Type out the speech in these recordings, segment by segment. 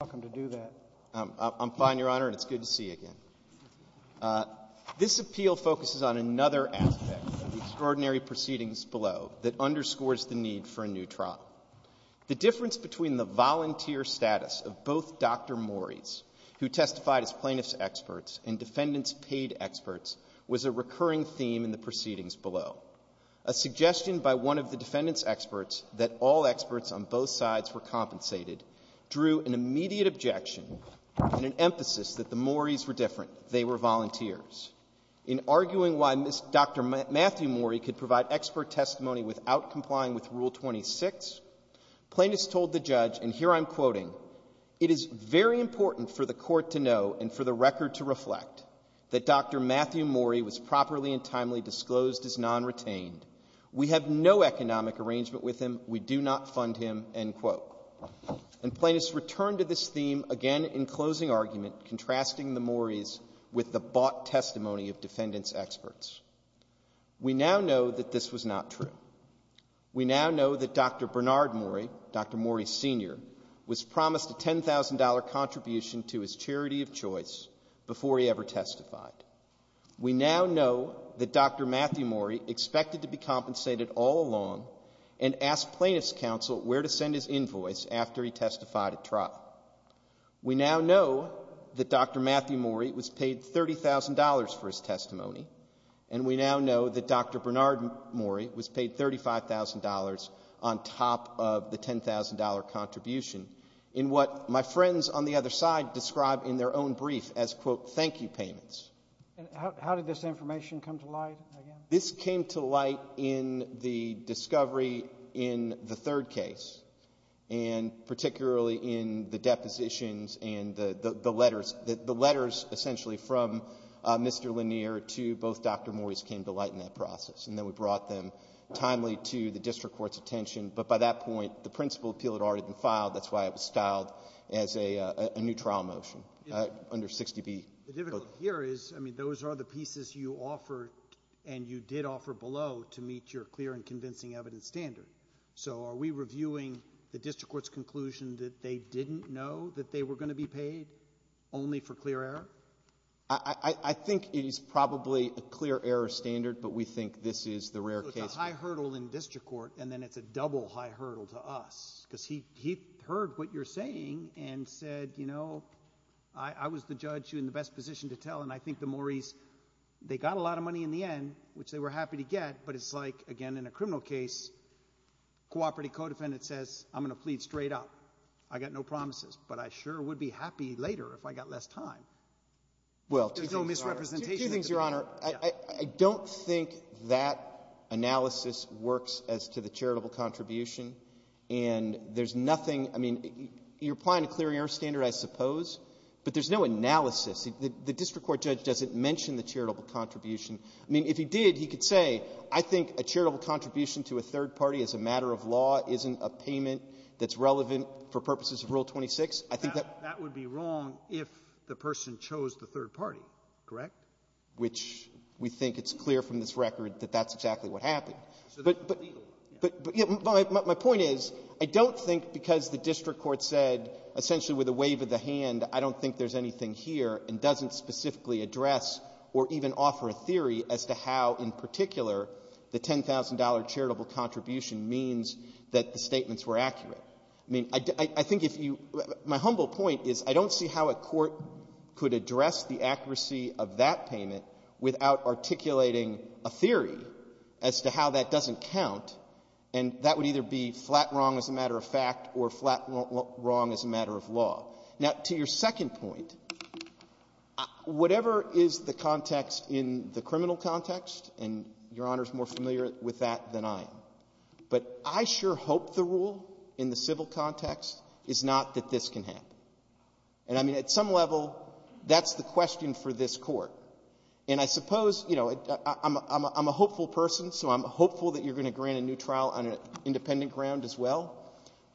I'm fine, Your Honor, and it's good to see you again. This appeal focuses on another aspect of the extraordinary proceedings below that underscores the need for a new trial. The difference between the volunteer status of both Dr. Morris, who testified as plaintiffs' experts and defendants' paid experts, was a recurring theme in the proceedings below. A suggestion by one of the defendants' experts that all experts on both sides were compensated drew an immediate reaction from the plaintiffs. In arguing why Dr. Matthew Morris could provide expert testimony without complying with Rule 26, plaintiffs told the judge, and here I'm quoting, It is very important for the Court to know and for the record to reflect that Dr. Matthew Morris was properly and timely disclosed as non-retained. We have no economic arrangement with him. We do not fund him. And plaintiffs returned to this theme again in closing argument, contrasting the Morris with the bought testimony of defendants' experts. We now know that this was not true. We now know that Dr. Bernard Morris, Dr. Morris Sr., was promised a $10,000 contribution to his charity of choice before he ever testified. We now know that Dr. Matthew Morris expected to be compensated all along and asked plaintiffs' counsel where to send his invoice after he testified at trial. We now know that Dr. Matthew Morris was paid $30,000 for his testimony, and we now know that Dr. Bernard Morris was paid $35,000 on top of the $10,000 contribution in what my friends on the other side described in their own brief as, quote, thank you payments. And how did this information come to light again? This came to light in the discovery in the third case, and particularly in the depositions and the letters. The letters essentially from Mr. Lanier to both Dr. Morris came to light in that process, and then we brought them timely to the district court's attention. But by that point, the principal appeal had already been filed. That's why it was styled as a new trial motion under 60B. The difficulty here is, I mean, those are the pieces you offered and you did offer below to meet your clear and convincing evidence standard. So are we reviewing the district court's conclusion that they didn't know that they were going to be paid only for clear error? I think it is probably a clear error standard, but we think this is the rare case. It's a high hurdle in district court, and then it's a double high hurdle to us because he heard what you're saying and said, you know, I was the judge in the best position to tell. And I think the Morris, they got a lot of money in the end, which they were happy to get. But it's like, again, in a criminal case, cooperative codefendant says, I'm going to plead straight up. I got no promises, but I sure would be happy later if I got less time. Well, two things, Your Honor. There's no misrepresentation. Two things, Your Honor. I don't think that analysis works as to the charitable contribution. And there's nothing — I mean, you're applying a clear error standard, I suppose, but there's no analysis. The district court judge doesn't mention the charitable contribution. I mean, if he did, he could say, I think a charitable contribution to a third party as a matter of law isn't a payment that's relevant for purposes of Rule 26. That would be wrong if the person chose the third party, correct? Which we think it's clear from this record that that's exactly what happened. But my point is, I don't think because the district court said, essentially, with a wave of the hand, I don't think there's anything here, and doesn't specifically address or even offer a theory as to how, in particular, the $10,000 charitable contribution means that the statements were accurate. I mean, I think if you — my humble point is, I don't see how a court could address the accuracy of that payment without articulating a theory as to how that doesn't count, and that would either be flat wrong as a matter of fact or flat wrong as a matter of law. Now, to your second point, whatever is the context in the criminal context and Your Honor's more familiar with that than I am, but I sure hope the rule in the civil context is not that this can happen. And I mean, at some level, that's the question for this Court. And I suppose, you know, I'm a hopeful person, so I'm hopeful that you're going to grant a new trial on an independent ground as well,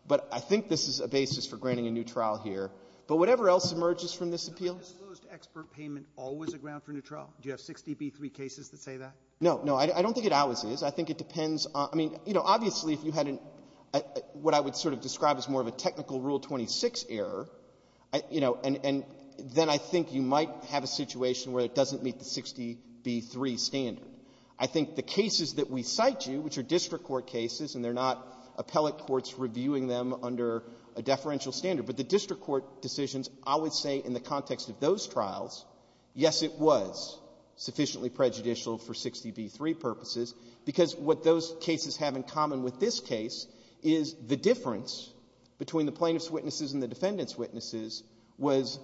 but I think this is a basis for granting a new trial here. But whatever else emerges from this appeal — Sotomayor, is that expert payment always a ground for a new trial? Do you have 60b3 cases that say that? No. No. I don't think it always is. I think it depends on — I mean, you know, obviously, if you had an — what I would sort of describe as more of a technical Rule 26 error, you know, and then I think you might have a situation where it doesn't meet the 60b3 standard. I think the cases that we cite you, which are district court cases, and they're not appellate courts reviewing them under a deferential standard, but the district court decisions, I would say in the context of those trials, yes, it was sufficiently prejudicial for 60b3 purposes, because what those cases have in common with this case is the difference between the plaintiff's witnesses and the defendant's witnesses was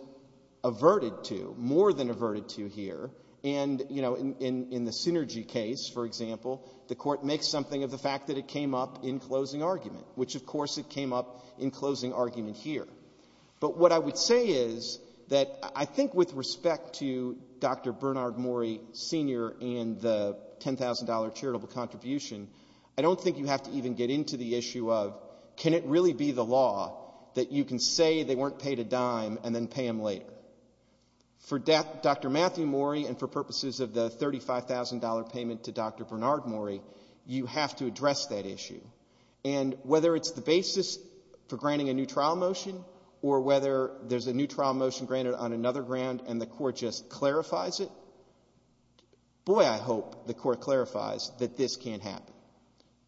averted to, more than averted to here. And, you know, in the Synergy case, for example, the Court makes something of the fact that it came up in closing argument, which, of course, it came up in closing argument here. But what I would say is that I think with respect to Dr. Bernard Morey Sr. and the $10,000 charitable contribution, I don't think you have to even get into the issue of can it really be the law that you can say they weren't paid a dime and then pay them later. For Dr. Matthew Morey and for purposes of the $35,000 payment to Dr. Bernard Morey, you have to address that issue. And whether it's the basis for granting a new trial motion or whether there's a new trial motion granted on another ground and the Court just clarifies it, boy, I hope the Court clarifies that this can't happen,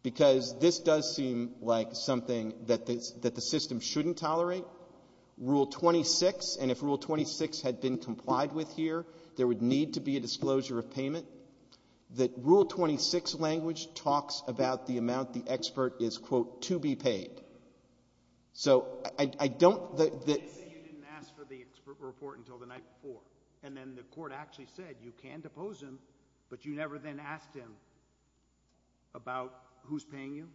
because this does seem like something that the system shouldn't tolerate. Rule 26, and if Rule 26 had been complied with here, there would need to be a disclosure of payment. Rule 26 language talks about the amount the expert is, quote, to be paid. So I don't that... Let's say you didn't ask for the expert report until the night before, and then the Court actually said you can depose him, but you never then asked him about who's paying you?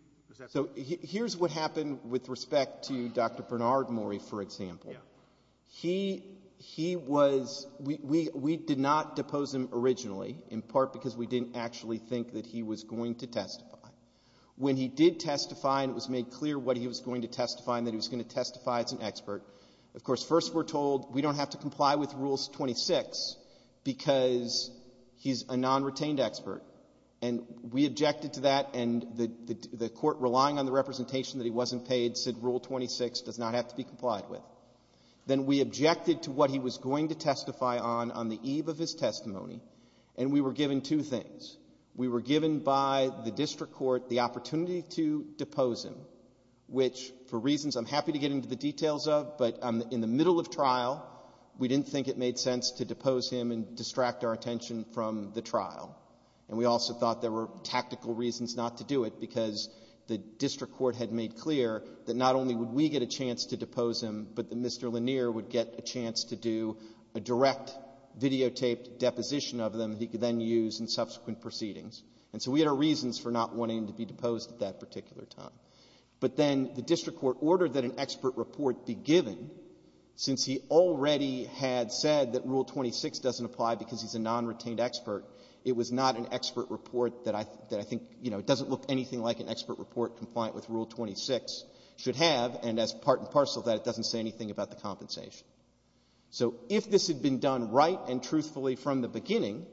So here's what happened with respect to Dr. Bernard Morey, for example. He was... We did not depose him originally, in part because we didn't actually think that he was going to testify. When he did testify and it was made clear what he was going to testify and that he was going to testify as an expert, of course, first we're told, we don't have to comply with Rule 26 because he's a non-retained expert. And we objected to that, and the Court, relying on the representation that he had, then we objected to what he was going to testify on, on the eve of his testimony, and we were given two things. We were given by the district court the opportunity to depose him, which, for reasons I'm happy to get into the details of, but in the middle of trial, we didn't think it made sense to depose him and distract our attention from the trial. And we also thought there were tactical reasons not to do it because the district court had made clear that not only would we get a chance to depose him, but that Mr. Lanier would get a chance to do a direct videotaped deposition of him that he could then use in subsequent proceedings. And so we had our reasons for not wanting him to be deposed at that particular time. But then the district court ordered that an expert report be given since he already had said that Rule 26 doesn't apply because he's a non-retained expert. It was not an expert report that I think, you know, it doesn't look anything like an expert report compliant with Rule 26 should have, and as part and parcel of that, it doesn't say anything about the compensation. So if this had been done right and truthfully from the beginning,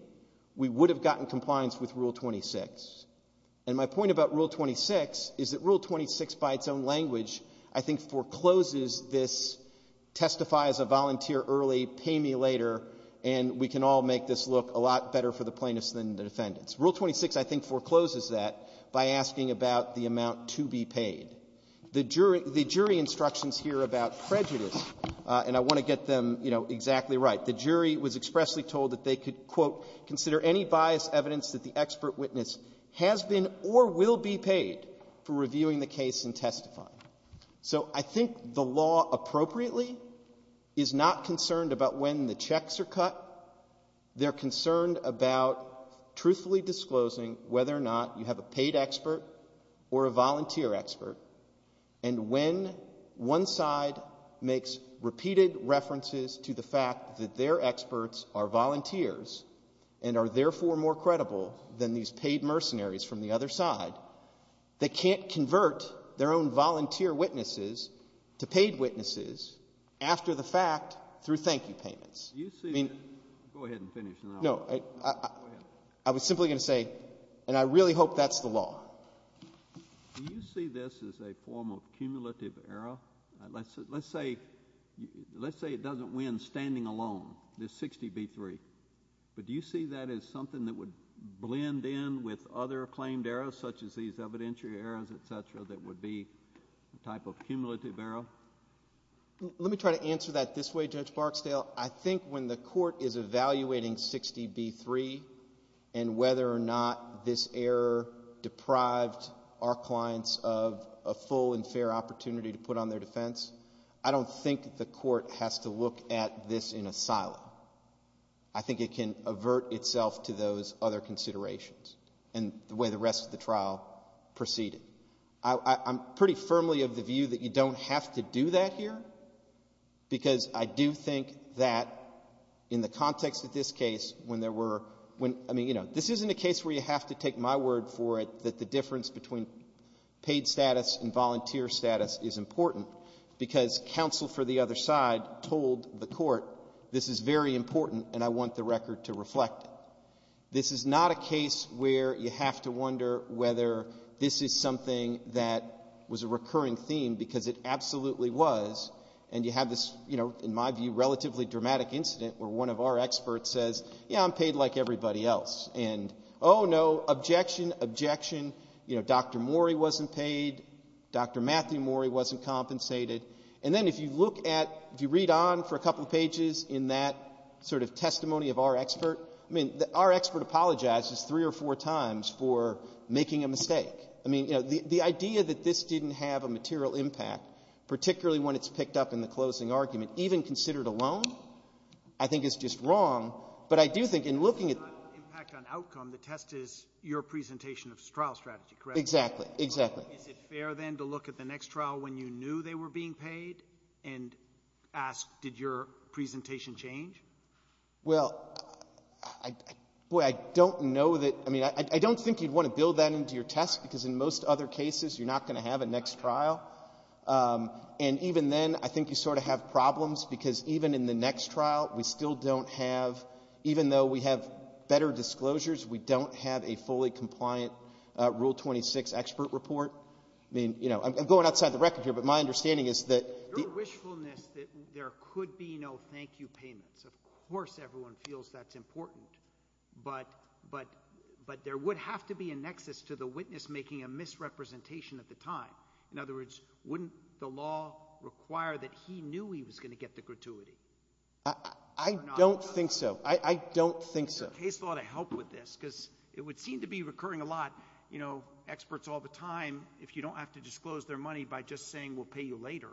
we would have gotten compliance with Rule 26. And my point about Rule 26 is that Rule 26 by its own language I think forecloses this testify as a volunteer early, pay me later, and we can all make this look a lot better for the plaintiffs than the defendants. Rule 26 I think forecloses that by asking about the amount to be paid. The jury instructions here about prejudice, and I want to get them, you know, exactly right, the jury was expressly told that they could, quote, consider any biased evidence that the expert witness has been or will be paid for reviewing the case and testifying. So I think the law appropriately is not concerned about when the checks are cut. They're concerned about truthfully disclosing whether or not you have a paid expert or a volunteer expert, and when one side makes repeated references to the fact that their experts are volunteers and are therefore more credible than these paid mercenaries from the other side, they can't convert their own volunteer witnesses to paid witnesses after the fact through thank you payments. Go ahead and finish. No. Go ahead. I was simply going to say, and I really hope that's the law. Do you see this as a form of cumulative error? Let's say it doesn't win standing alone, this 60 v. 3. But do you see that as something that would blend in with other claimed errors such as these evidentiary errors, et cetera, that would be a type of cumulative error? Let me try to answer that this way, Judge Barksdale. I think when the court is evaluating 60 v. 3 and whether or not this error deprived our clients of a full and fair opportunity to put on their defense, I don't think the court has to look at this in a silo. I think it can avert itself to those other considerations and the way the rest of the trial proceeded. I'm pretty firmly of the view that you don't have to do that here because I do think that in the context of this case, when there were, I mean, you know, this isn't a case where you have to take my word for it that the difference between paid status and volunteer status is important because counsel for the other side told the court this is very important and I want the record to reflect it. This is not a case where you have to wonder whether this is something that was a recurring theme because it absolutely was, and you have this, you know, in my view, relatively dramatic incident where one of our experts says, yeah, I'm paid like everybody else, and oh, no, objection, objection. You know, Dr. Morey wasn't paid. Dr. Matthew Morey wasn't compensated. And then if you look at, if you read on for a couple pages in that sort of testimony of our expert, I mean, our expert apologizes three or four times for making a mistake. I mean, you know, the idea that this didn't have a material impact, particularly when it's picked up in the closing argument, even considered alone, I think is just wrong. But I do think in looking at the outcome, the test is your presentation of trial strategy, correct? Exactly. Exactly. Is it fair, then, to look at the next trial when you knew they were being paid and ask did your presentation change? Well, I don't know that, I mean, I don't think you'd want to build that into your test because in most other cases, you're not going to have a next trial. And even then, I think you sort of have problems because even in the next trial, we still don't have, even though we have better disclosures, we don't have a fully compliant Rule 26 expert report. I mean, you know, I'm going outside the record here, but my understanding is that the — Your wishfulness that there could be no thank you payments, of course everyone feels that's important, but there would have to be a nexus to the witness making a misrepresentation at the time. In other words, wouldn't the law require that he knew he was going to get the gratuity? I don't think so. I don't think so. Isn't the case law to help with this? Because it would seem to be recurring a lot, you know, experts all the time, if you don't have to disclose their money by just saying we'll pay you later.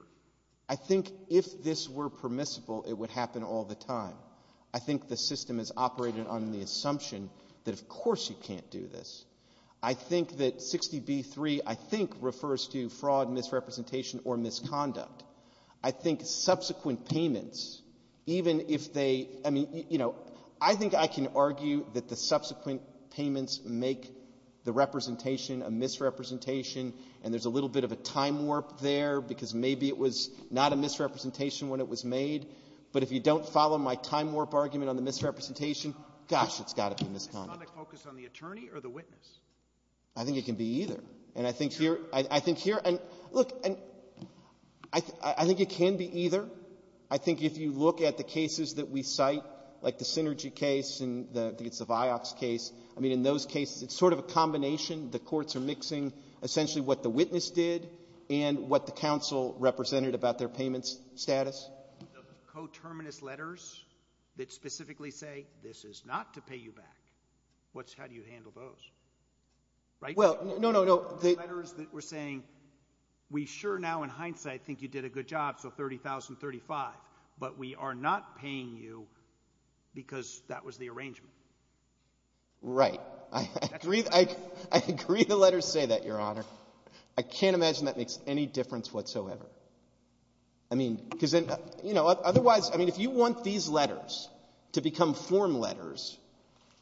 I think if this were permissible, it would happen all the time. I think the system is operated on the assumption that of course you can't do this. I think that 60B-3, I think, refers to fraud, misrepresentation, or misconduct. I think subsequent payments, even if they — I mean, you know, I think I can argue that the subsequent payments make the representation a misrepresentation, and there's a little bit of a time warp there because maybe it was not a misrepresentation when it was made, but if you don't follow my time warp argument on the misrepresentation, gosh, it's got to be misconduct. Is conduct focused on the attorney or the witness? I think it can be either. And I think here — It's true. I think here — look, I think it can be either. I think if you look at the cases that we cite, like the Synergy case and the — I think it's the Vioxx case. I mean, in those cases, it's sort of a combination. The courts are mixing essentially what the witness did and what the counsel represented about their payment status. The coterminous letters that specifically say, this is not to pay you back, how do you handle those? Right? Well, no, no, no. The letters that were saying, we sure now in hindsight think you did a good job, so $30,000, $35,000, but we are not paying you because that was the arrangement. Right. I agree the letters say that, Your Honor. I can't imagine that makes any difference whatsoever. I mean, because otherwise — I mean, if you want these letters to become form letters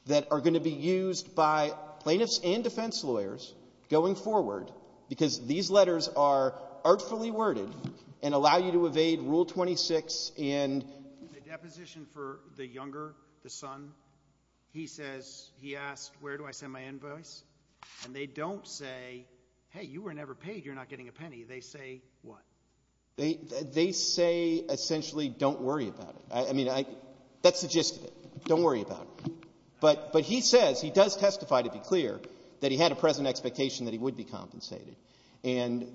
that are going to be used by plaintiffs and defense lawyers going forward because these letters are artfully worded and allow you to evade Rule 26 and — The deposition for the younger, the son, he says — he asked, where do I send my invoice? And they don't say, hey, you were never paid, you're not getting a penny. They say what? They say essentially don't worry about it. I mean, that's the gist of it. Don't worry about it. But he says, he does testify to be clear that he had a present expectation that he would be compensated. And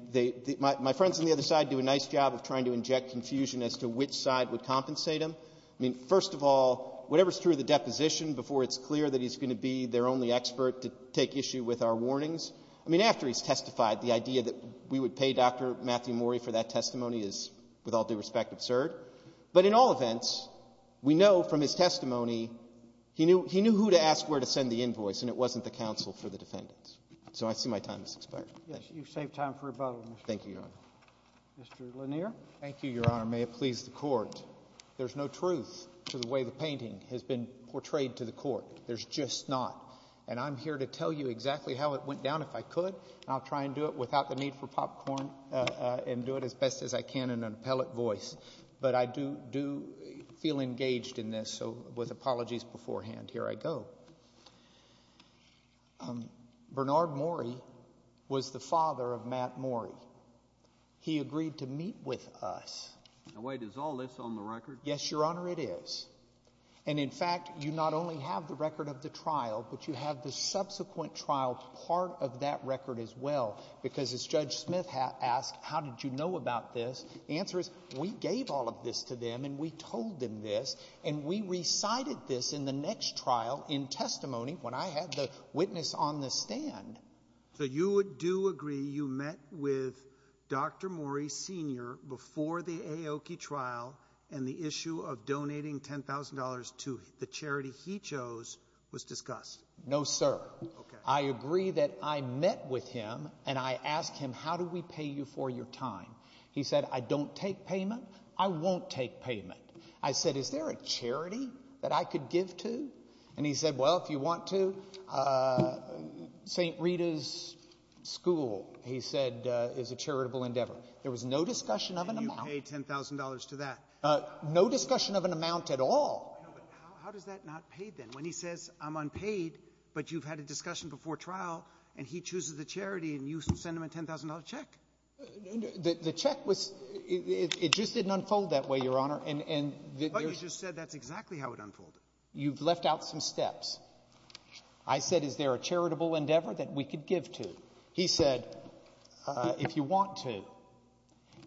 my friends on the other side do a nice job of trying to inject confusion as to which side would compensate him. I mean, first of all, whatever is true of the deposition before it's clear that he's going to be their only expert to take issue with our warnings? I mean, after he's testified, the idea that we would pay Dr. Matthew Mori for that testimony is, with all due respect, absurd. But in all events, we know from his testimony he knew who to ask where to send the invoice, and it wasn't the counsel for the defendants. So I see my time has expired. You've saved time for rebuttal, Mr. — Thank you, Your Honor. Mr. Lanier. Thank you, Your Honor. May it please the Court. There's no truth to the way the painting has been portrayed to the Court. There's just not. And I'm here to tell you exactly how it went down if I could, and I'll try and do it without the need for popcorn and do it as best as I can in an appellate voice. But I do feel engaged in this, so with apologies beforehand, here I go. Bernard Mori was the father of Matt Mori. He agreed to meet with us. Now, wait. Is all this on the record? Yes, Your Honor, it is. And, in fact, you not only have the record of the trial, but you have the subsequent trial part of that record as well, because as Judge Smith asked, how did you know about this, the answer is we gave all of this to them and we told them this, and we recited this in the next trial in testimony when I had the witness on the stand. So you do agree you met with Dr. Mori Sr. before the Aoki trial, and the issue of donating $10,000 to the charity he chose was discussed? No, sir. I agree that I met with him, and I asked him, how do we pay you for your time? He said, I don't take payment. I won't take payment. I said, is there a charity that I could give to? And he said, well, if you want to, St. Rita's School, he said, is a charitable endeavor. There was no discussion of an amount. And you paid $10,000 to that? No discussion of an amount at all. No, but how does that not pay then? When he says I'm unpaid, but you've had a discussion before trial, and he chooses the charity, and you send him a $10,000 check. The check was – it just didn't unfold that way, Your Honor. But you just said that's exactly how it unfolded. You've left out some steps. I said, is there a charitable endeavor that we could give to? He said, if you want to.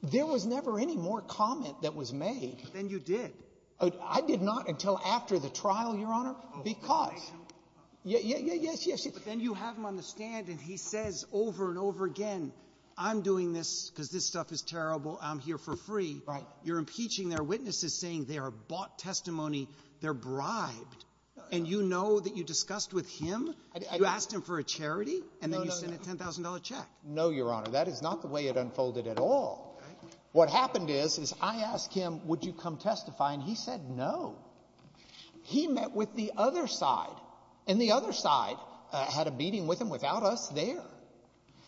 There was never any more comment that was made. But then you did. I did not until after the trial, Your Honor, because – But then you have him on the stand, and he says over and over again, I'm doing this because this stuff is terrible. I'm here for free. Right. You're impeaching their witnesses, saying they are bought testimony, they're bribed, and you know that you discussed with him? You asked him for a charity, and then you sent a $10,000 check. No, Your Honor. That is not the way it unfolded at all. What happened is, is I asked him, would you come testify, and he said no. He met with the other side, and the other side had a meeting with him without us there.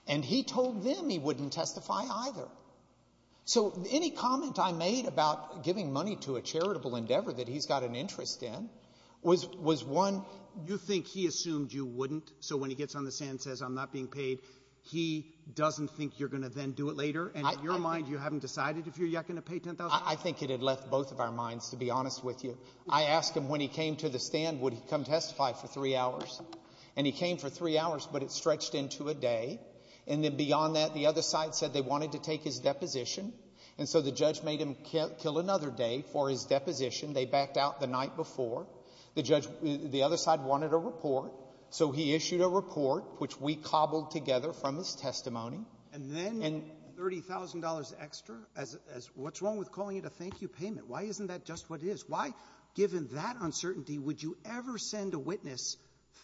And he told them he wouldn't testify either. So any comment I made about giving money to a charitable endeavor that he's got an interest in was one – You think he assumed you wouldn't, so when he gets on the stand and says, I'm not being paid, he doesn't think you're going to then do it later? And in your mind, you haven't decided if you're yet going to pay $10,000? I think it had left both of our minds, to be honest with you. I asked him when he came to the stand, would he come testify for three hours. And he came for three hours, but it stretched into a day. And then beyond that, the other side said they wanted to take his deposition, and so the judge made him kill another day for his deposition. They backed out the night before. The judge – the other side wanted a report, so he issued a report, which we cobbled together from his testimony. And then $30,000 extra? What's wrong with calling it a thank you payment? Why isn't that just what it is? Why, given that uncertainty, would you ever send a witness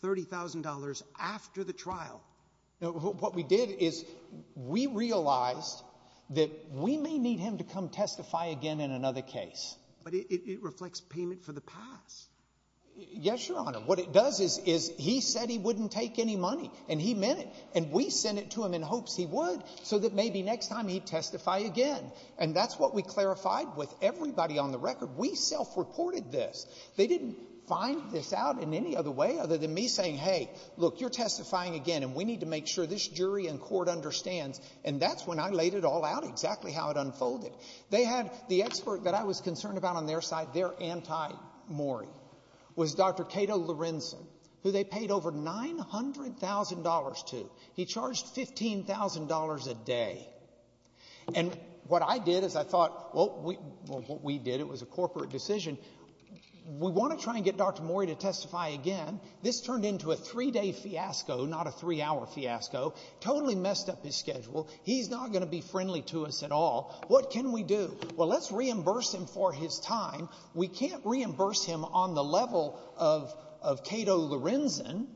$30,000 after the trial? What we did is we realized that we may need him to come testify again in another case. But it reflects payment for the past. Yes, Your Honor. What it does is he said he wouldn't take any money, and he meant it. And we sent it to him in hopes he would so that maybe next time he'd testify again. And that's what we clarified with everybody on the record. We self-reported this. They didn't find this out in any other way other than me saying, hey, look, you're testifying again, and we need to make sure this jury and court understands. And that's when I laid it all out exactly how it unfolded. They had the expert that I was concerned about on their side, their anti-Morrie, was Dr. Cato Lorenzen, who they paid over $900,000 to. He charged $15,000 a day. And what I did is I thought, well, what we did, it was a corporate decision. We want to try and get Dr. Morrie to testify again. This turned into a three-day fiasco, not a three-hour fiasco. Totally messed up his schedule. He's not going to be friendly to us at all. What can we do? Well, let's reimburse him for his time. We can't reimburse him on the level of Cato Lorenzen,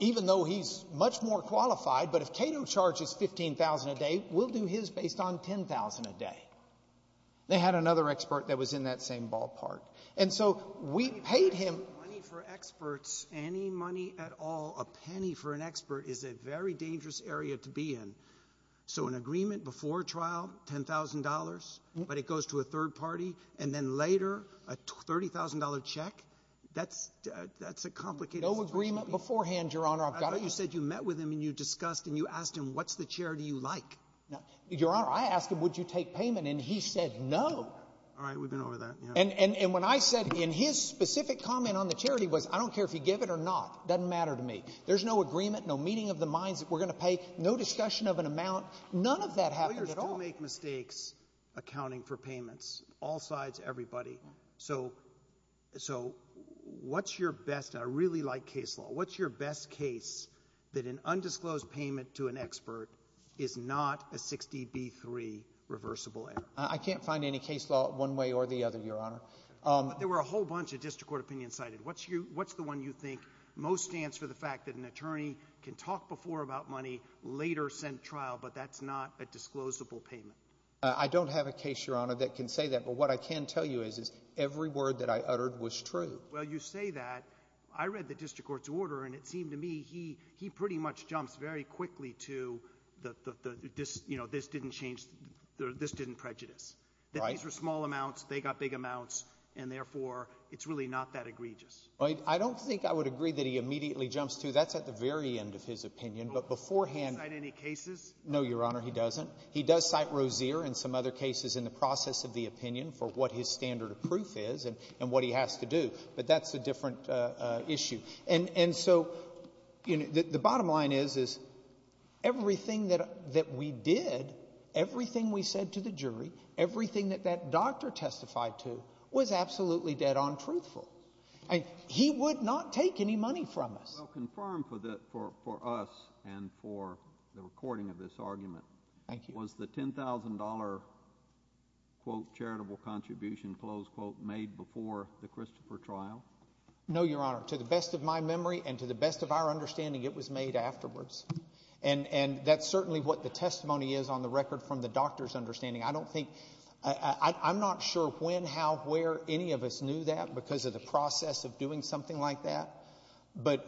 even though he's much more qualified. But if Cato charges $15,000 a day, we'll do his based on $10,000 a day. They had another expert that was in that same ballpark. And so we paid him. Money for experts, any money at all, a penny for an expert, is a very dangerous area to be in. So an agreement before trial, $10,000, but it goes to a third party, and then later, a $30,000 check? That's a complicated situation. No agreement beforehand, Your Honor. I thought you said you met with him and you discussed and you asked him, what's the charity you like? Your Honor, I asked him, would you take payment, and he said no. All right, we've been over that. And what I said in his specific comment on the charity was I don't care if you give it or not. It doesn't matter to me. There's no agreement, no meeting of the minds that we're going to pay, no discussion of an amount. None of that happened at all. Lawyers do make mistakes accounting for payments, all sides, everybody. So what's your best? I really like case law. What's your best case that an undisclosed payment to an expert is not a 60B3 reversible error? I can't find any case law one way or the other, Your Honor. But there were a whole bunch of district court opinions cited. What's the one you think most stands for the fact that an attorney can talk before about money, later send trial, but that's not a disclosable payment? I don't have a case, Your Honor, that can say that. But what I can tell you is every word that I uttered was true. Well, you say that. I read the district court's order, and it seemed to me he pretty much jumps very quickly to the, you know, this didn't change, this didn't prejudice. Right. That these were small amounts, they got big amounts, and, therefore, it's really not that egregious. I don't think I would agree that he immediately jumps to. That's at the very end of his opinion. But beforehand — Does he cite any cases? No, Your Honor, he doesn't. He does cite Rozier and some other cases in the process of the opinion for what his standard of proof is and what he has to do. But that's a different issue. And so the bottom line is, is everything that we did, everything we said to the jury, everything that that doctor testified to was absolutely dead-on truthful. He would not take any money from us. Well, confirm for us and for the recording of this argument. Thank you. Was the $10,000, quote, charitable contribution, close quote, made before the Christopher trial? No, Your Honor. To the best of my memory and to the best of our understanding, it was made afterwards. And that's certainly what the testimony is on the record from the doctor's understanding. I don't think — I'm not sure when, how, where any of us knew that because of the process of doing something like that. But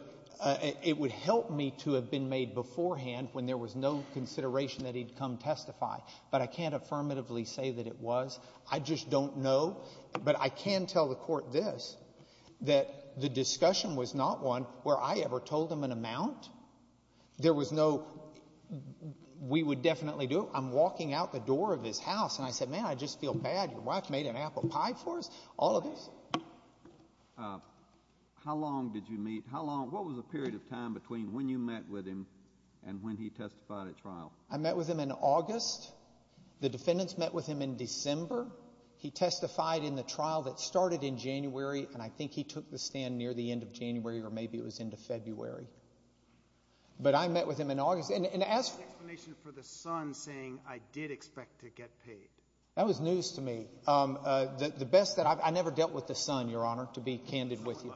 it would help me to have been made beforehand when there was no consideration that he'd come testify. But I can't affirmatively say that it was. I just don't know. But I can tell the Court this, that the discussion was not one where I ever told him an amount. There was no we would definitely do it. I'm walking out the door of his house, and I said, man, I just feel bad. Your wife made an apple pie for us. All of this. How long did you meet? What was the period of time between when you met with him and when he testified at trial? I met with him in August. The defendants met with him in December. He testified in the trial that started in January, and I think he took the stand near the end of January, or maybe it was into February. But I met with him in August. And ask for an explanation for the son saying, I did expect to get paid. That was news to me. I never dealt with the son, Your Honor, to be candid with you.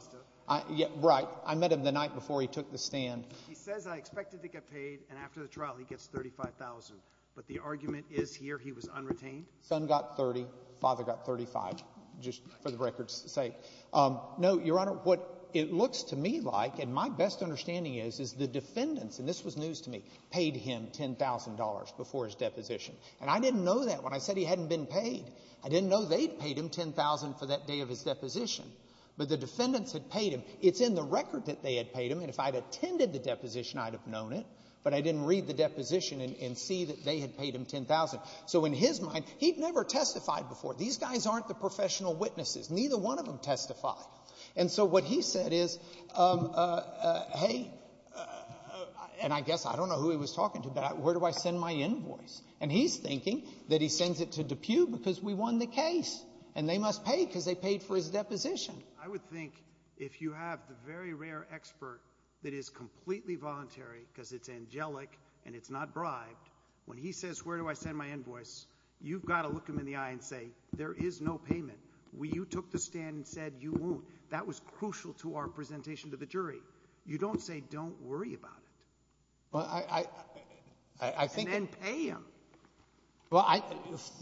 Right. I met him the night before he took the stand. He says, I expected to get paid, and after the trial he gets $35,000. But the argument is here he was unretained. Son got $30,000. Father got $35,000, just for the record's sake. No, Your Honor, what it looks to me like, and my best understanding is, is the defendants, and this was news to me, paid him $10,000 before his deposition. And I didn't know that when I said he hadn't been paid. I didn't know they'd paid him $10,000 for that day of his deposition. But the defendants had paid him. It's in the record that they had paid him, and if I had attended the deposition, I'd have known it. But I didn't read the deposition and see that they had paid him $10,000. So in his mind, he'd never testified before. These guys aren't the professional witnesses. Neither one of them testified. And so what he said is, hey, and I guess I don't know who he was talking to, but where do I send my invoice? And he's thinking that he sends it to DePue because we won the case, and they must pay because they paid for his deposition. I would think if you have the very rare expert that is completely voluntary because it's angelic and it's not bribed, when he says where do I send my invoice, you've got to look him in the eye and say there is no payment. You took the stand and said you won't. That was crucial to our presentation to the jury. You don't say don't worry about it. And then pay him.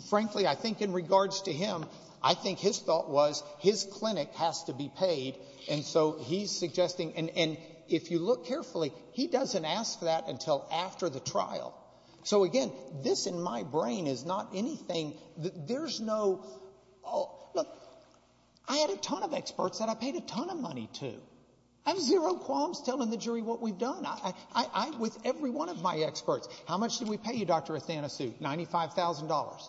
Frankly, I think in regards to him, I think his thought was his clinic has to be paid, and so he's suggesting, and if you look carefully, he doesn't ask that until after the trial. So, again, this in my brain is not anything. There's no – look, I had a ton of experts that I paid a ton of money to. I have zero qualms telling the jury what we've done. With every one of my experts, how much did we pay you, Dr. Athanasiou? $95,000.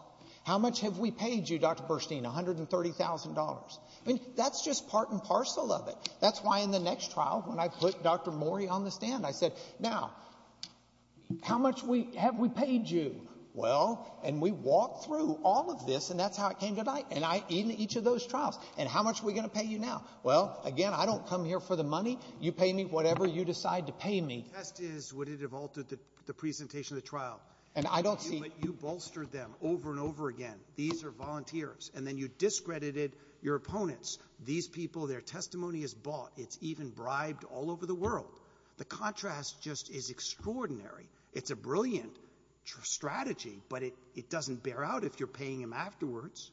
How much have we paid you, Dr. Burstein? $130,000. That's just part and parcel of it. That's why in the next trial when I put Dr. Morey on the stand, I said, now, how much have we paid you? Well, and we walked through all of this, and that's how it came to light. And in each of those trials, and how much are we going to pay you now? Well, again, I don't come here for the money. You pay me whatever you decide to pay me. The test is would it have altered the presentation of the trial. And I don't see – But you bolstered them over and over again. These are volunteers. And then you discredited your opponents. These people, their testimony is bought. It's even bribed all over the world. The contrast just is extraordinary. It's a brilliant strategy, but it doesn't bear out if you're paying them afterwards.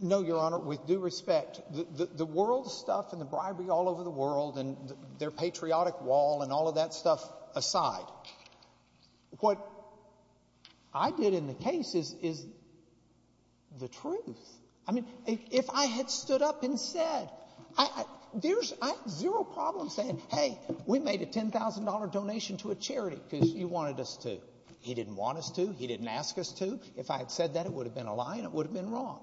No, Your Honor, with due respect. The world stuff and the bribery all over the world and their patriotic wall and all of that stuff aside, what I did in the case is the truth. I mean, if I had stood up and said, there's zero problem saying, hey, we made a $10,000 donation to a charity because you wanted us to. He didn't want us to. He didn't ask us to. If I had said that, it would have been a lie and it would have been wrong.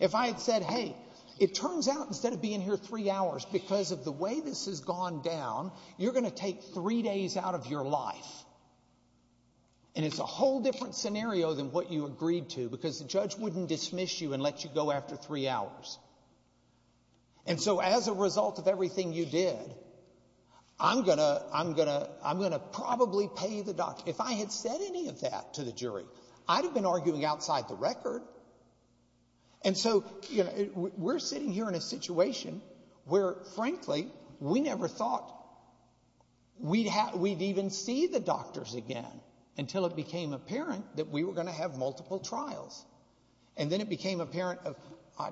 If I had said, hey, it turns out instead of being here three hours because of the way this has gone down, you're going to take three days out of your life. And it's a whole different scenario than what you agreed to because the judge wouldn't dismiss you and let you go after three hours. And so as a result of everything you did, I'm going to probably pay the doctor. If I had said any of that to the jury, I'd have been arguing outside the record. And so we're sitting here in a situation where, frankly, we never thought we'd have we'd even see the doctors again until it became apparent that we were going to have multiple trials. And then it became apparent of,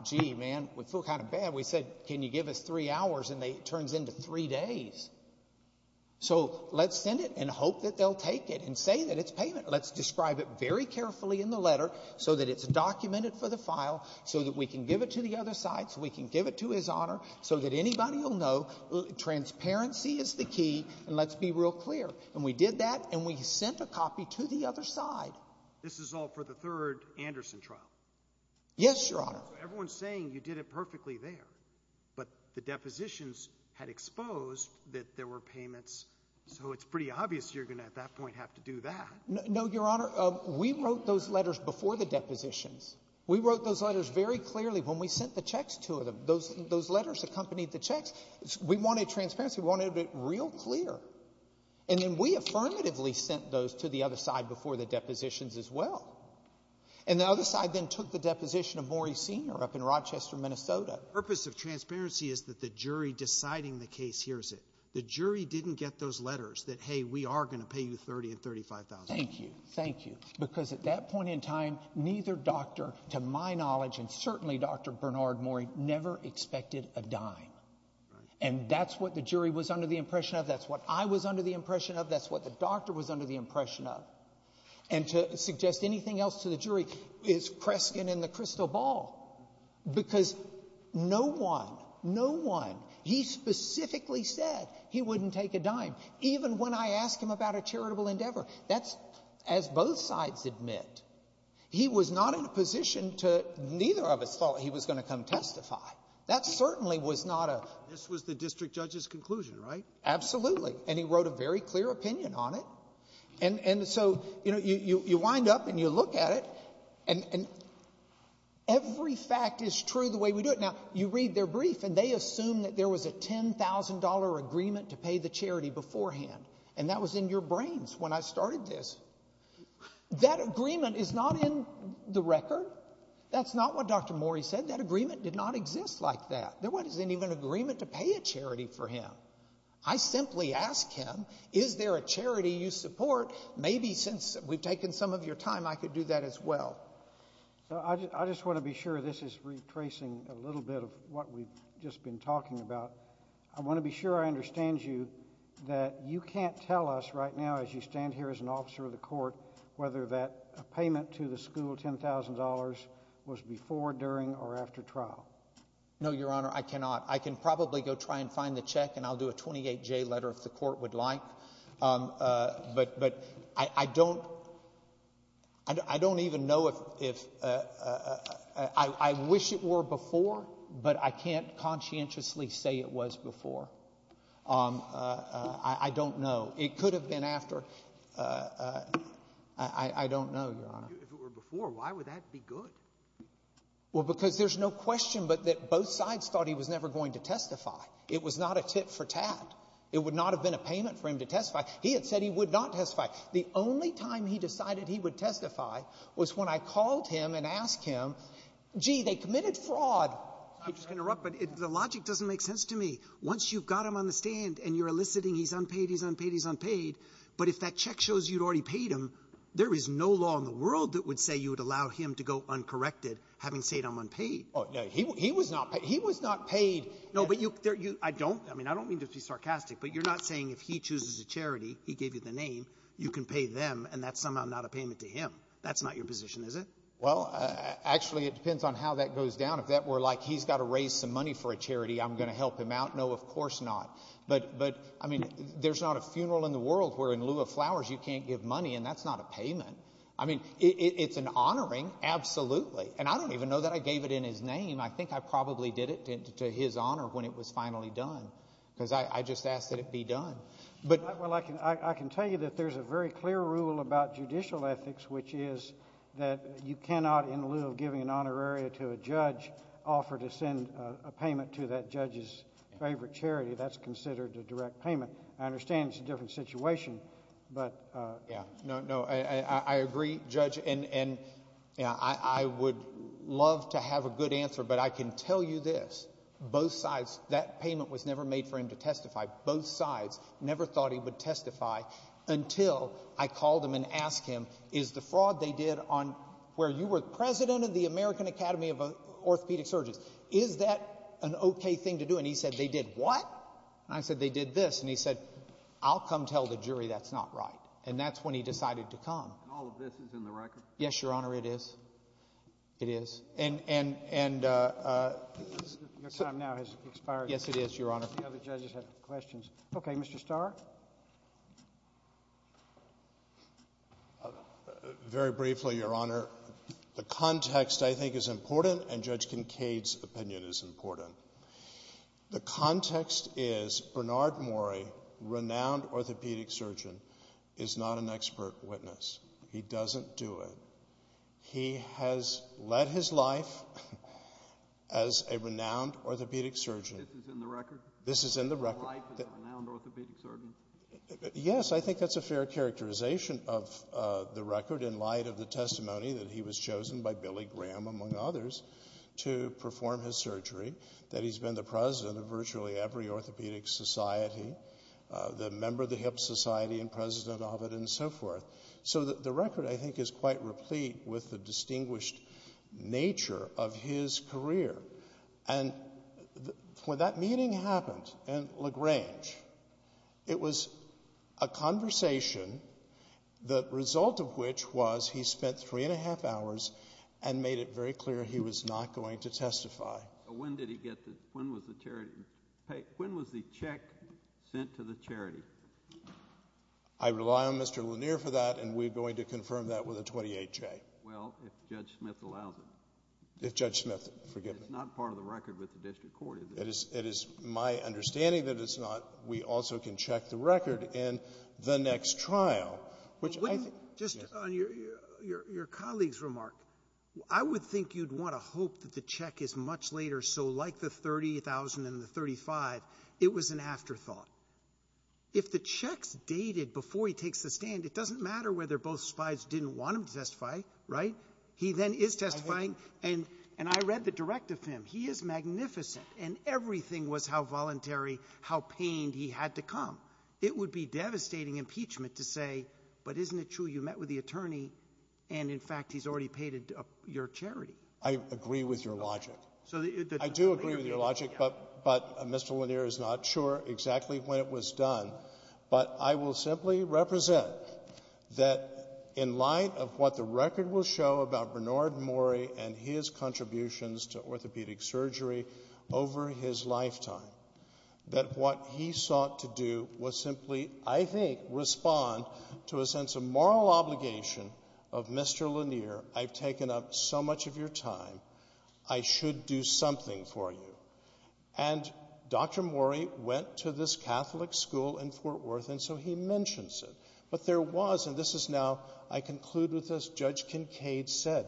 gee, man, we feel kind of bad. We said, can you give us three hours? And it turns into three days. So let's send it and hope that they'll take it and say that it's payment. Let's describe it very carefully in the letter so that it's documented for the file so that we can give it to the other side, so we can give it to his honor so that anybody will know. Transparency is the key. And let's be real clear. And we did that and we sent a copy to the other side. This is all for the third Anderson trial. Yes, Your Honor. Everyone's saying you did it perfectly there, but the depositions had exposed that there were payments. So it's pretty obvious you're going to at that point have to do that. No, Your Honor. We wrote those letters before the depositions. We wrote those letters very clearly when we sent the checks to them. Those letters accompanied the checks. We wanted transparency. We wanted it real clear. And then we affirmatively sent those to the other side before the depositions as well. And the other side then took the deposition of Maury Sr. up in Rochester, Minnesota. The purpose of transparency is that the jury deciding the case hears it. The jury didn't get those letters that, hey, we are going to pay you $30,000 and $35,000. Thank you. Thank you. Because at that point in time, neither doctor, to my knowledge, and certainly Dr. Bernard Maury, never expected a dime. And that's what the jury was under the impression of. That's what I was under the impression of. That's what the doctor was under the impression of. And to suggest anything else to the jury is Kreskin in the crystal ball. Because no one, no one, he specifically said he wouldn't take a dime, even when I asked him about a charitable endeavor. That's, as both sides admit, he was not in a position to, neither of us thought he was going to come testify. That certainly was not a... This was the district judge's conclusion, right? Absolutely. And he wrote a very clear opinion on it. And so, you know, you wind up and you look at it, and every fact is true the way we do it. Now, you read their brief, and they assume that there was a $10,000 agreement to pay the charity beforehand. And that was in your brains when I started this. That agreement is not in the record. That's not what Dr. Maury said. That agreement did not exist like that. There wasn't even an agreement to pay a charity for him. I simply asked him, is there a charity you support? Maybe since we've taken some of your time, I could do that as well. I just want to be sure this is retracing a little bit of what we've just been talking about. I want to be sure I understand you that you can't tell us right now as you stand here as an officer of the court whether that payment to the school, $10,000, was before, during, or after trial. No, Your Honor, I cannot. I can probably go try and find the check, and I'll do a 28-J letter if the court would like. But I don't even know if—I wish it were before, but I can't conscientiously say it was before. I don't know. It could have been after. I don't know, Your Honor. If it were before, why would that be good? Well, because there's no question but that both sides thought he was never going to testify. It was not a tit-for-tat. It would not have been a payment for him to testify. He had said he would not testify. The only time he decided he would testify was when I called him and asked him, gee, they committed fraud. I'm just going to interrupt, but the logic doesn't make sense to me. Once you've got him on the stand and you're eliciting he's unpaid, he's unpaid, he's unpaid, but if that check shows you'd already paid him, there is no law in the world that would say you would allow him to go uncorrected having said I'm unpaid. He was not paid. He was not paid. No, but you—I don't—I mean, I don't mean to be sarcastic, but you're not saying if he chooses a charity, he gave you the name, you can pay them, and that's somehow not a payment to him. That's not your position, is it? Well, actually, it depends on how that goes down. If that were like he's got to raise some money for a charity, I'm going to help him out. No, of course not. But, I mean, there's not a funeral in the world where in lieu of flowers you can't give money, and that's not a payment. I mean, it's an honoring, absolutely. And I don't even know that I gave it in his name. I think I probably did it to his honor when it was finally done because I just asked that it be done. Well, I can tell you that there's a very clear rule about judicial ethics, which is that you cannot, in lieu of giving an honorary to a judge, offer to send a payment to that judge's favorite charity. That's considered a direct payment. I understand it's a different situation, but— Yeah, no, I agree, Judge. And I would love to have a good answer, but I can tell you this. Both sides, that payment was never made for him to testify. Both sides never thought he would testify until I called him and asked him, is the fraud they did on where you were president of the American Academy of Orthopedic Surgeons, is that an okay thing to do? And he said they did what? And I said they did this. And he said, I'll come tell the jury that's not right. And that's when he decided to come. And all of this is in the record? Yes, Your Honor, it is. It is. And— Your time now has expired. Yes, it is, Your Honor. The other judges have questions. Okay, Mr. Starr? Very briefly, Your Honor, the context, I think, is important, and Judge Kincaid's opinion is important. The context is Bernard Mori, renowned orthopedic surgeon, is not an expert witness. He doesn't do it. He has led his life as a renowned orthopedic surgeon. This is in the record? This is in the record. His life as a renowned orthopedic surgeon? Yes, I think that's a fair characterization of the record in light of the testimony that he was chosen by Billy Graham, among others, to perform his surgery, that he's been the president of virtually every orthopedic society, the member of the Hip Society and president of it and so forth. So the record, I think, is quite replete with the distinguished nature of his career. And when that meeting happened in LaGrange, it was a conversation, the result of which was he spent three and a half hours and made it very clear he was not going to testify. When did he get the, when was the check sent to the charity? I rely on Mr. Lanier for that, and we're going to confirm that with a 28-J. Well, if Judge Smith allows it. If Judge Smith, forgive me. It's not part of the record with the district court. It is my understanding that it's not. We also can check the record in the next trial, which I think yes. Just on your colleague's remark, I would think you'd want to hope that the check is much later, so like the 30,000 and the 35, it was an afterthought. If the check's dated before he takes the stand, it doesn't matter whether both sides didn't want him to testify, right? He then is testifying, and I read the direct of him. He is magnificent, and everything was how voluntary, how pained he had to come. It would be devastating impeachment to say, but isn't it true you met with the attorney, and in fact he's already paid your charity? I agree with your logic. I do agree with your logic, but Mr. Lanier is not sure exactly when it was done. But I will simply represent that in light of what the record will show about Bernard over his lifetime, that what he sought to do was simply, I think, respond to a sense of moral obligation of Mr. Lanier. I've taken up so much of your time. I should do something for you. And Dr. Morey went to this Catholic school in Fort Worth, and so he mentions it. But there was, and this is now I conclude with as Judge Kincaid said,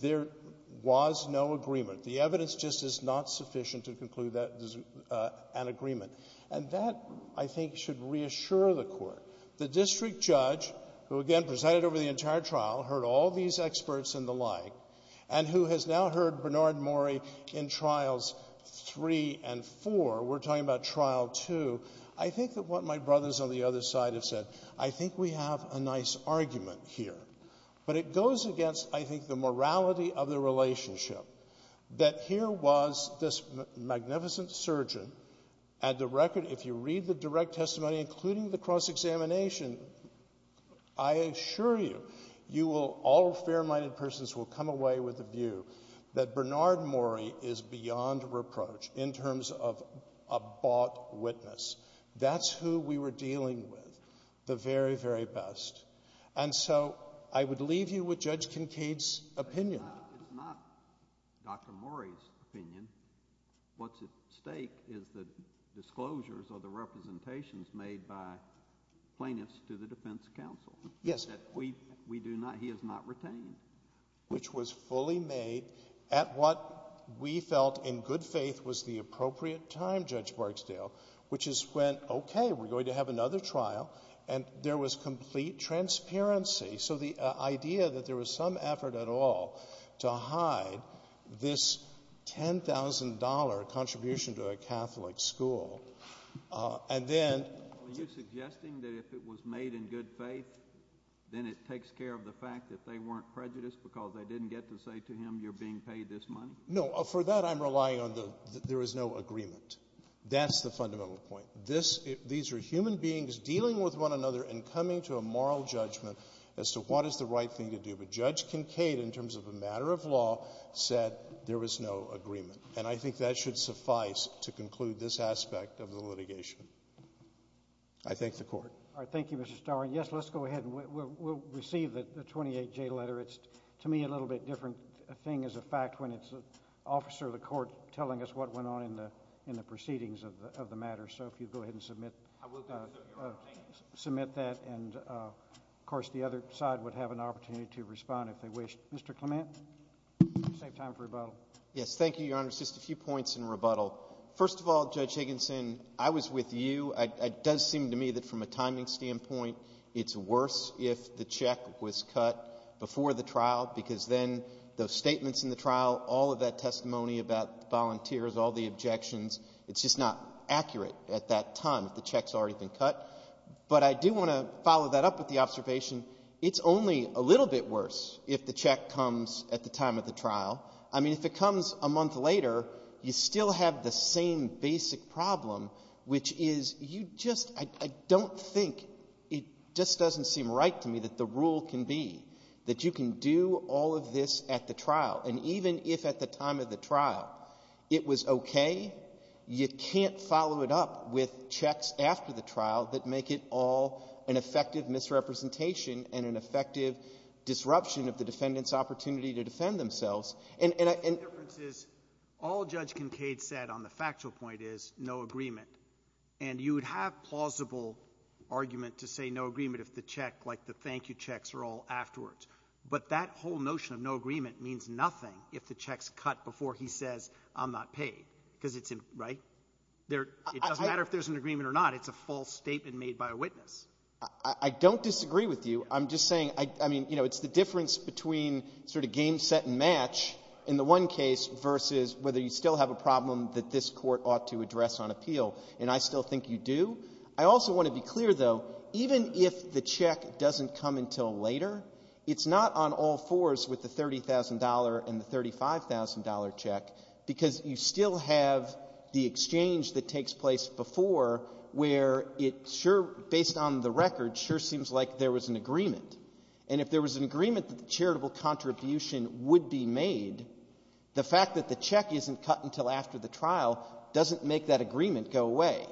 there was no agreement. The evidence just is not sufficient to conclude that there's an agreement. And that, I think, should reassure the Court. The district judge, who again presented over the entire trial, heard all these experts and the like, and who has now heard Bernard Morey in Trials 3 and 4, we're talking about Trial 2, I think that what my brothers on the other side have said, I think we have a nice argument here. But it goes against, I think, the morality of the relationship, that here was this magnificent surgeon. At the record, if you read the direct testimony, including the cross-examination, I assure you, all fair-minded persons will come away with the view that Bernard Morey is beyond reproach in terms of a bought witness. That's who we were dealing with, the very, very best. And so I would leave you with Judge Kincaid's opinion. It's not Dr. Morey's opinion. What's at stake is the disclosures or the representations made by plaintiffs to the defense counsel. Yes. That we do not, he has not retained. Which was fully made at what we felt in good faith was the appropriate time, Judge Barksdale, which is when, okay, we're going to have another trial, and there was complete transparency. So the idea that there was some effort at all to hide this $10,000 contribution to a Catholic school, and then — Are you suggesting that if it was made in good faith, then it takes care of the fact that they weren't prejudiced because they didn't get to say to him, you're being paid this money? No. For that I'm relying on the there is no agreement. That's the fundamental point. These are human beings dealing with one another and coming to a moral judgment as to what is the right thing to do. But Judge Kincaid, in terms of a matter of law, said there was no agreement. And I think that should suffice to conclude this aspect of the litigation. I thank the Court. All right. Thank you, Mr. Starr. And, yes, let's go ahead and we'll receive the 28J letter. It's, to me, a little bit different thing as a fact when it's an officer of the Court telling us what went on in the proceedings of the matter. So if you'll go ahead and submit that. And, of course, the other side would have an opportunity to respond if they wish. Mr. Clement, save time for rebuttal. Yes. Thank you, Your Honor. Just a few points in rebuttal. First of all, Judge Higginson, I was with you. It does seem to me that from a timing standpoint it's worse if the check was cut before the trial because then those statements in the trial, all of that testimony about the volunteers, all the objections, it's just not accurate at that time if the check's already been cut. But I do want to follow that up with the observation it's only a little bit worse if the check comes at the time of the trial. I mean, if it comes a month later, you still have the same basic problem, which is you just — I don't think — it just doesn't seem right to me that the rule can be that you can do all of this at the trial. And even if at the time of the trial it was okay, you can't follow it up with checks after the trial that make it all an effective misrepresentation and an effective disruption of the defendants' opportunity to defend themselves. And I — The only difference is all Judge Kincaid said on the factual point is no agreement. And you would have plausible argument to say no agreement if the check, like the thank you checks, are all afterwards. But that whole notion of no agreement means nothing if the check's cut before he says I'm not paid, because it's — right? It doesn't matter if there's an agreement or not. It's a false statement made by a witness. I don't disagree with you. I'm just saying — I mean, you know, it's the difference between sort of game, set, and match in the one case versus whether you still have a problem that this Court ought to address on appeal. And I still think you do. I also want to be clear, though, even if the check doesn't come until later, it's not on all fours with the $30,000 and the $35,000 check, because you still have the exchange that takes place before, where it sure — based on the record, sure seems like there was an agreement. And if there was an agreement that the charitable contribution would be made, the fact that the check isn't cut until after the trial doesn't make that agreement go away.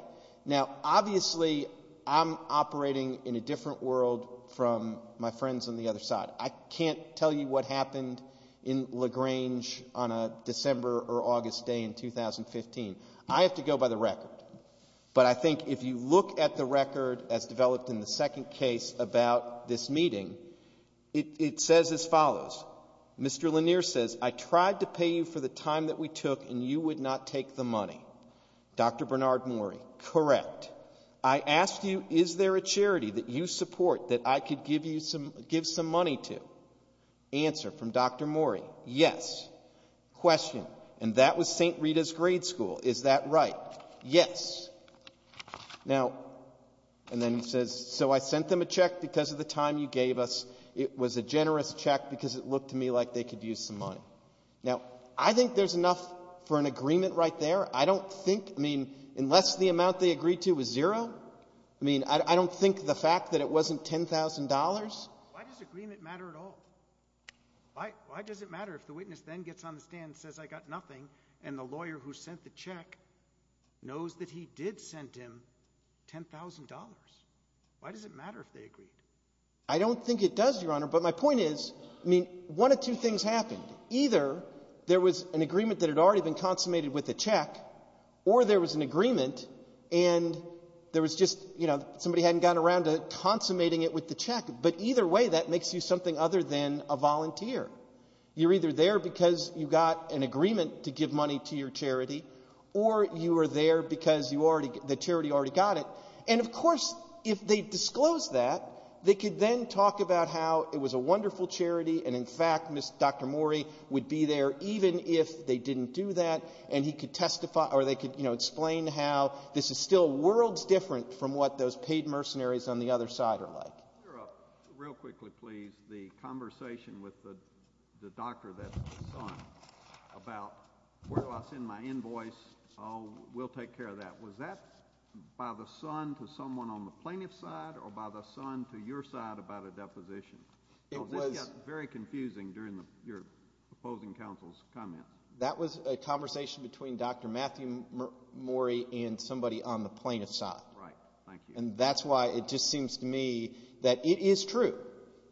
Now, obviously, I'm operating in a different world from my friends on the other side. I can't tell you what happened in LaGrange on a December or August day in 2015. I have to go by the record. But I think if you look at the record as developed in the second case about this meeting, it says as follows. Mr. Lanier says, I tried to pay you for the time that we took, and you would not take the money. Dr. Bernard Mori, correct. I asked you, is there a charity that you support that I could give some money to? Answer from Dr. Mori, yes. Question, and that was St. Rita's Grade School. Is that right? Yes. Now, and then he says, so I sent them a check because of the time you gave us. It was a generous check because it looked to me like they could use some money. Now, I think there's enough for an agreement right there. I don't think, I mean, unless the amount they agreed to was zero, I mean, I don't think the fact that it wasn't $10,000. Why does agreement matter at all? Why does it matter if the witness then gets on the stand and says, I got nothing, and the lawyer who sent the check knows that he did send him $10,000? Why does it matter if they agreed? I don't think it does, Your Honor, but my point is, I mean, one of two things happened. Either there was an agreement that had already been consummated with the check or there was an agreement and there was just, you know, somebody hadn't gotten around to consummating it with the check. But either way, that makes you something other than a volunteer. You're either there because you got an agreement to give money to your charity or you were there because the charity already got it. And, of course, if they disclosed that, they could then talk about how it was a wonderful charity and, in fact, Dr. Morey would be there even if they didn't do that and he could testify or they could, you know, explain how this is still worlds different from what those paid mercenaries on the other side are like. Real quickly, please, the conversation with the doctor, that son, about where do I send my invoice, oh, we'll take care of that. Was that by the son to someone on the plaintiff's side or by the son to your side about a deposition? This got very confusing during your opposing counsel's comments. That was a conversation between Dr. Matthew Morey and somebody on the plaintiff's side. Right. Thank you. And that's why it just seems to me that it is true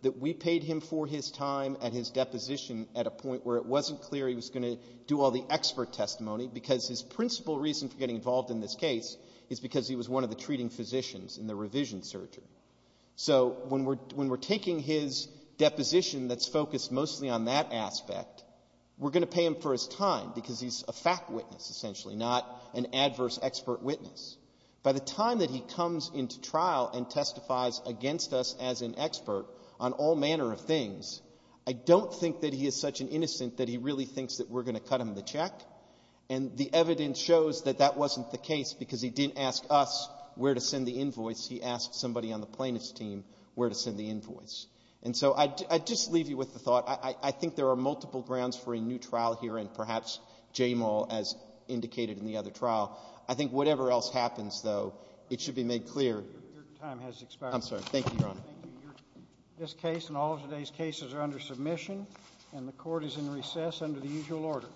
that we paid him for his time and his deposition at a point where it wasn't clear he was going to do all the expert testimony because his principal reason for getting involved in this case is because he was one of the treating physicians in the revision surgery. So when we're taking his deposition that's focused mostly on that aspect, we're going to pay him for his time because he's a fact witness, essentially, not an adverse expert witness. By the time that he comes into trial and testifies against us as an expert on all manner of things, I don't think that he is such an innocent that he really thinks that we're going to cut him the check. And the evidence shows that that wasn't the case because he didn't ask us where to send the invoice. He asked somebody on the plaintiff's team where to send the invoice. And so I'd just leave you with the thought. I think there are multiple grounds for a new trial here and perhaps Jamal as indicated in the other trial. I think whatever else happens, though, it should be made clear. Your time has expired. I'm sorry. Thank you, Your Honor. Thank you. This case and all of today's cases are under submission, and the Court is in recess under the usual order.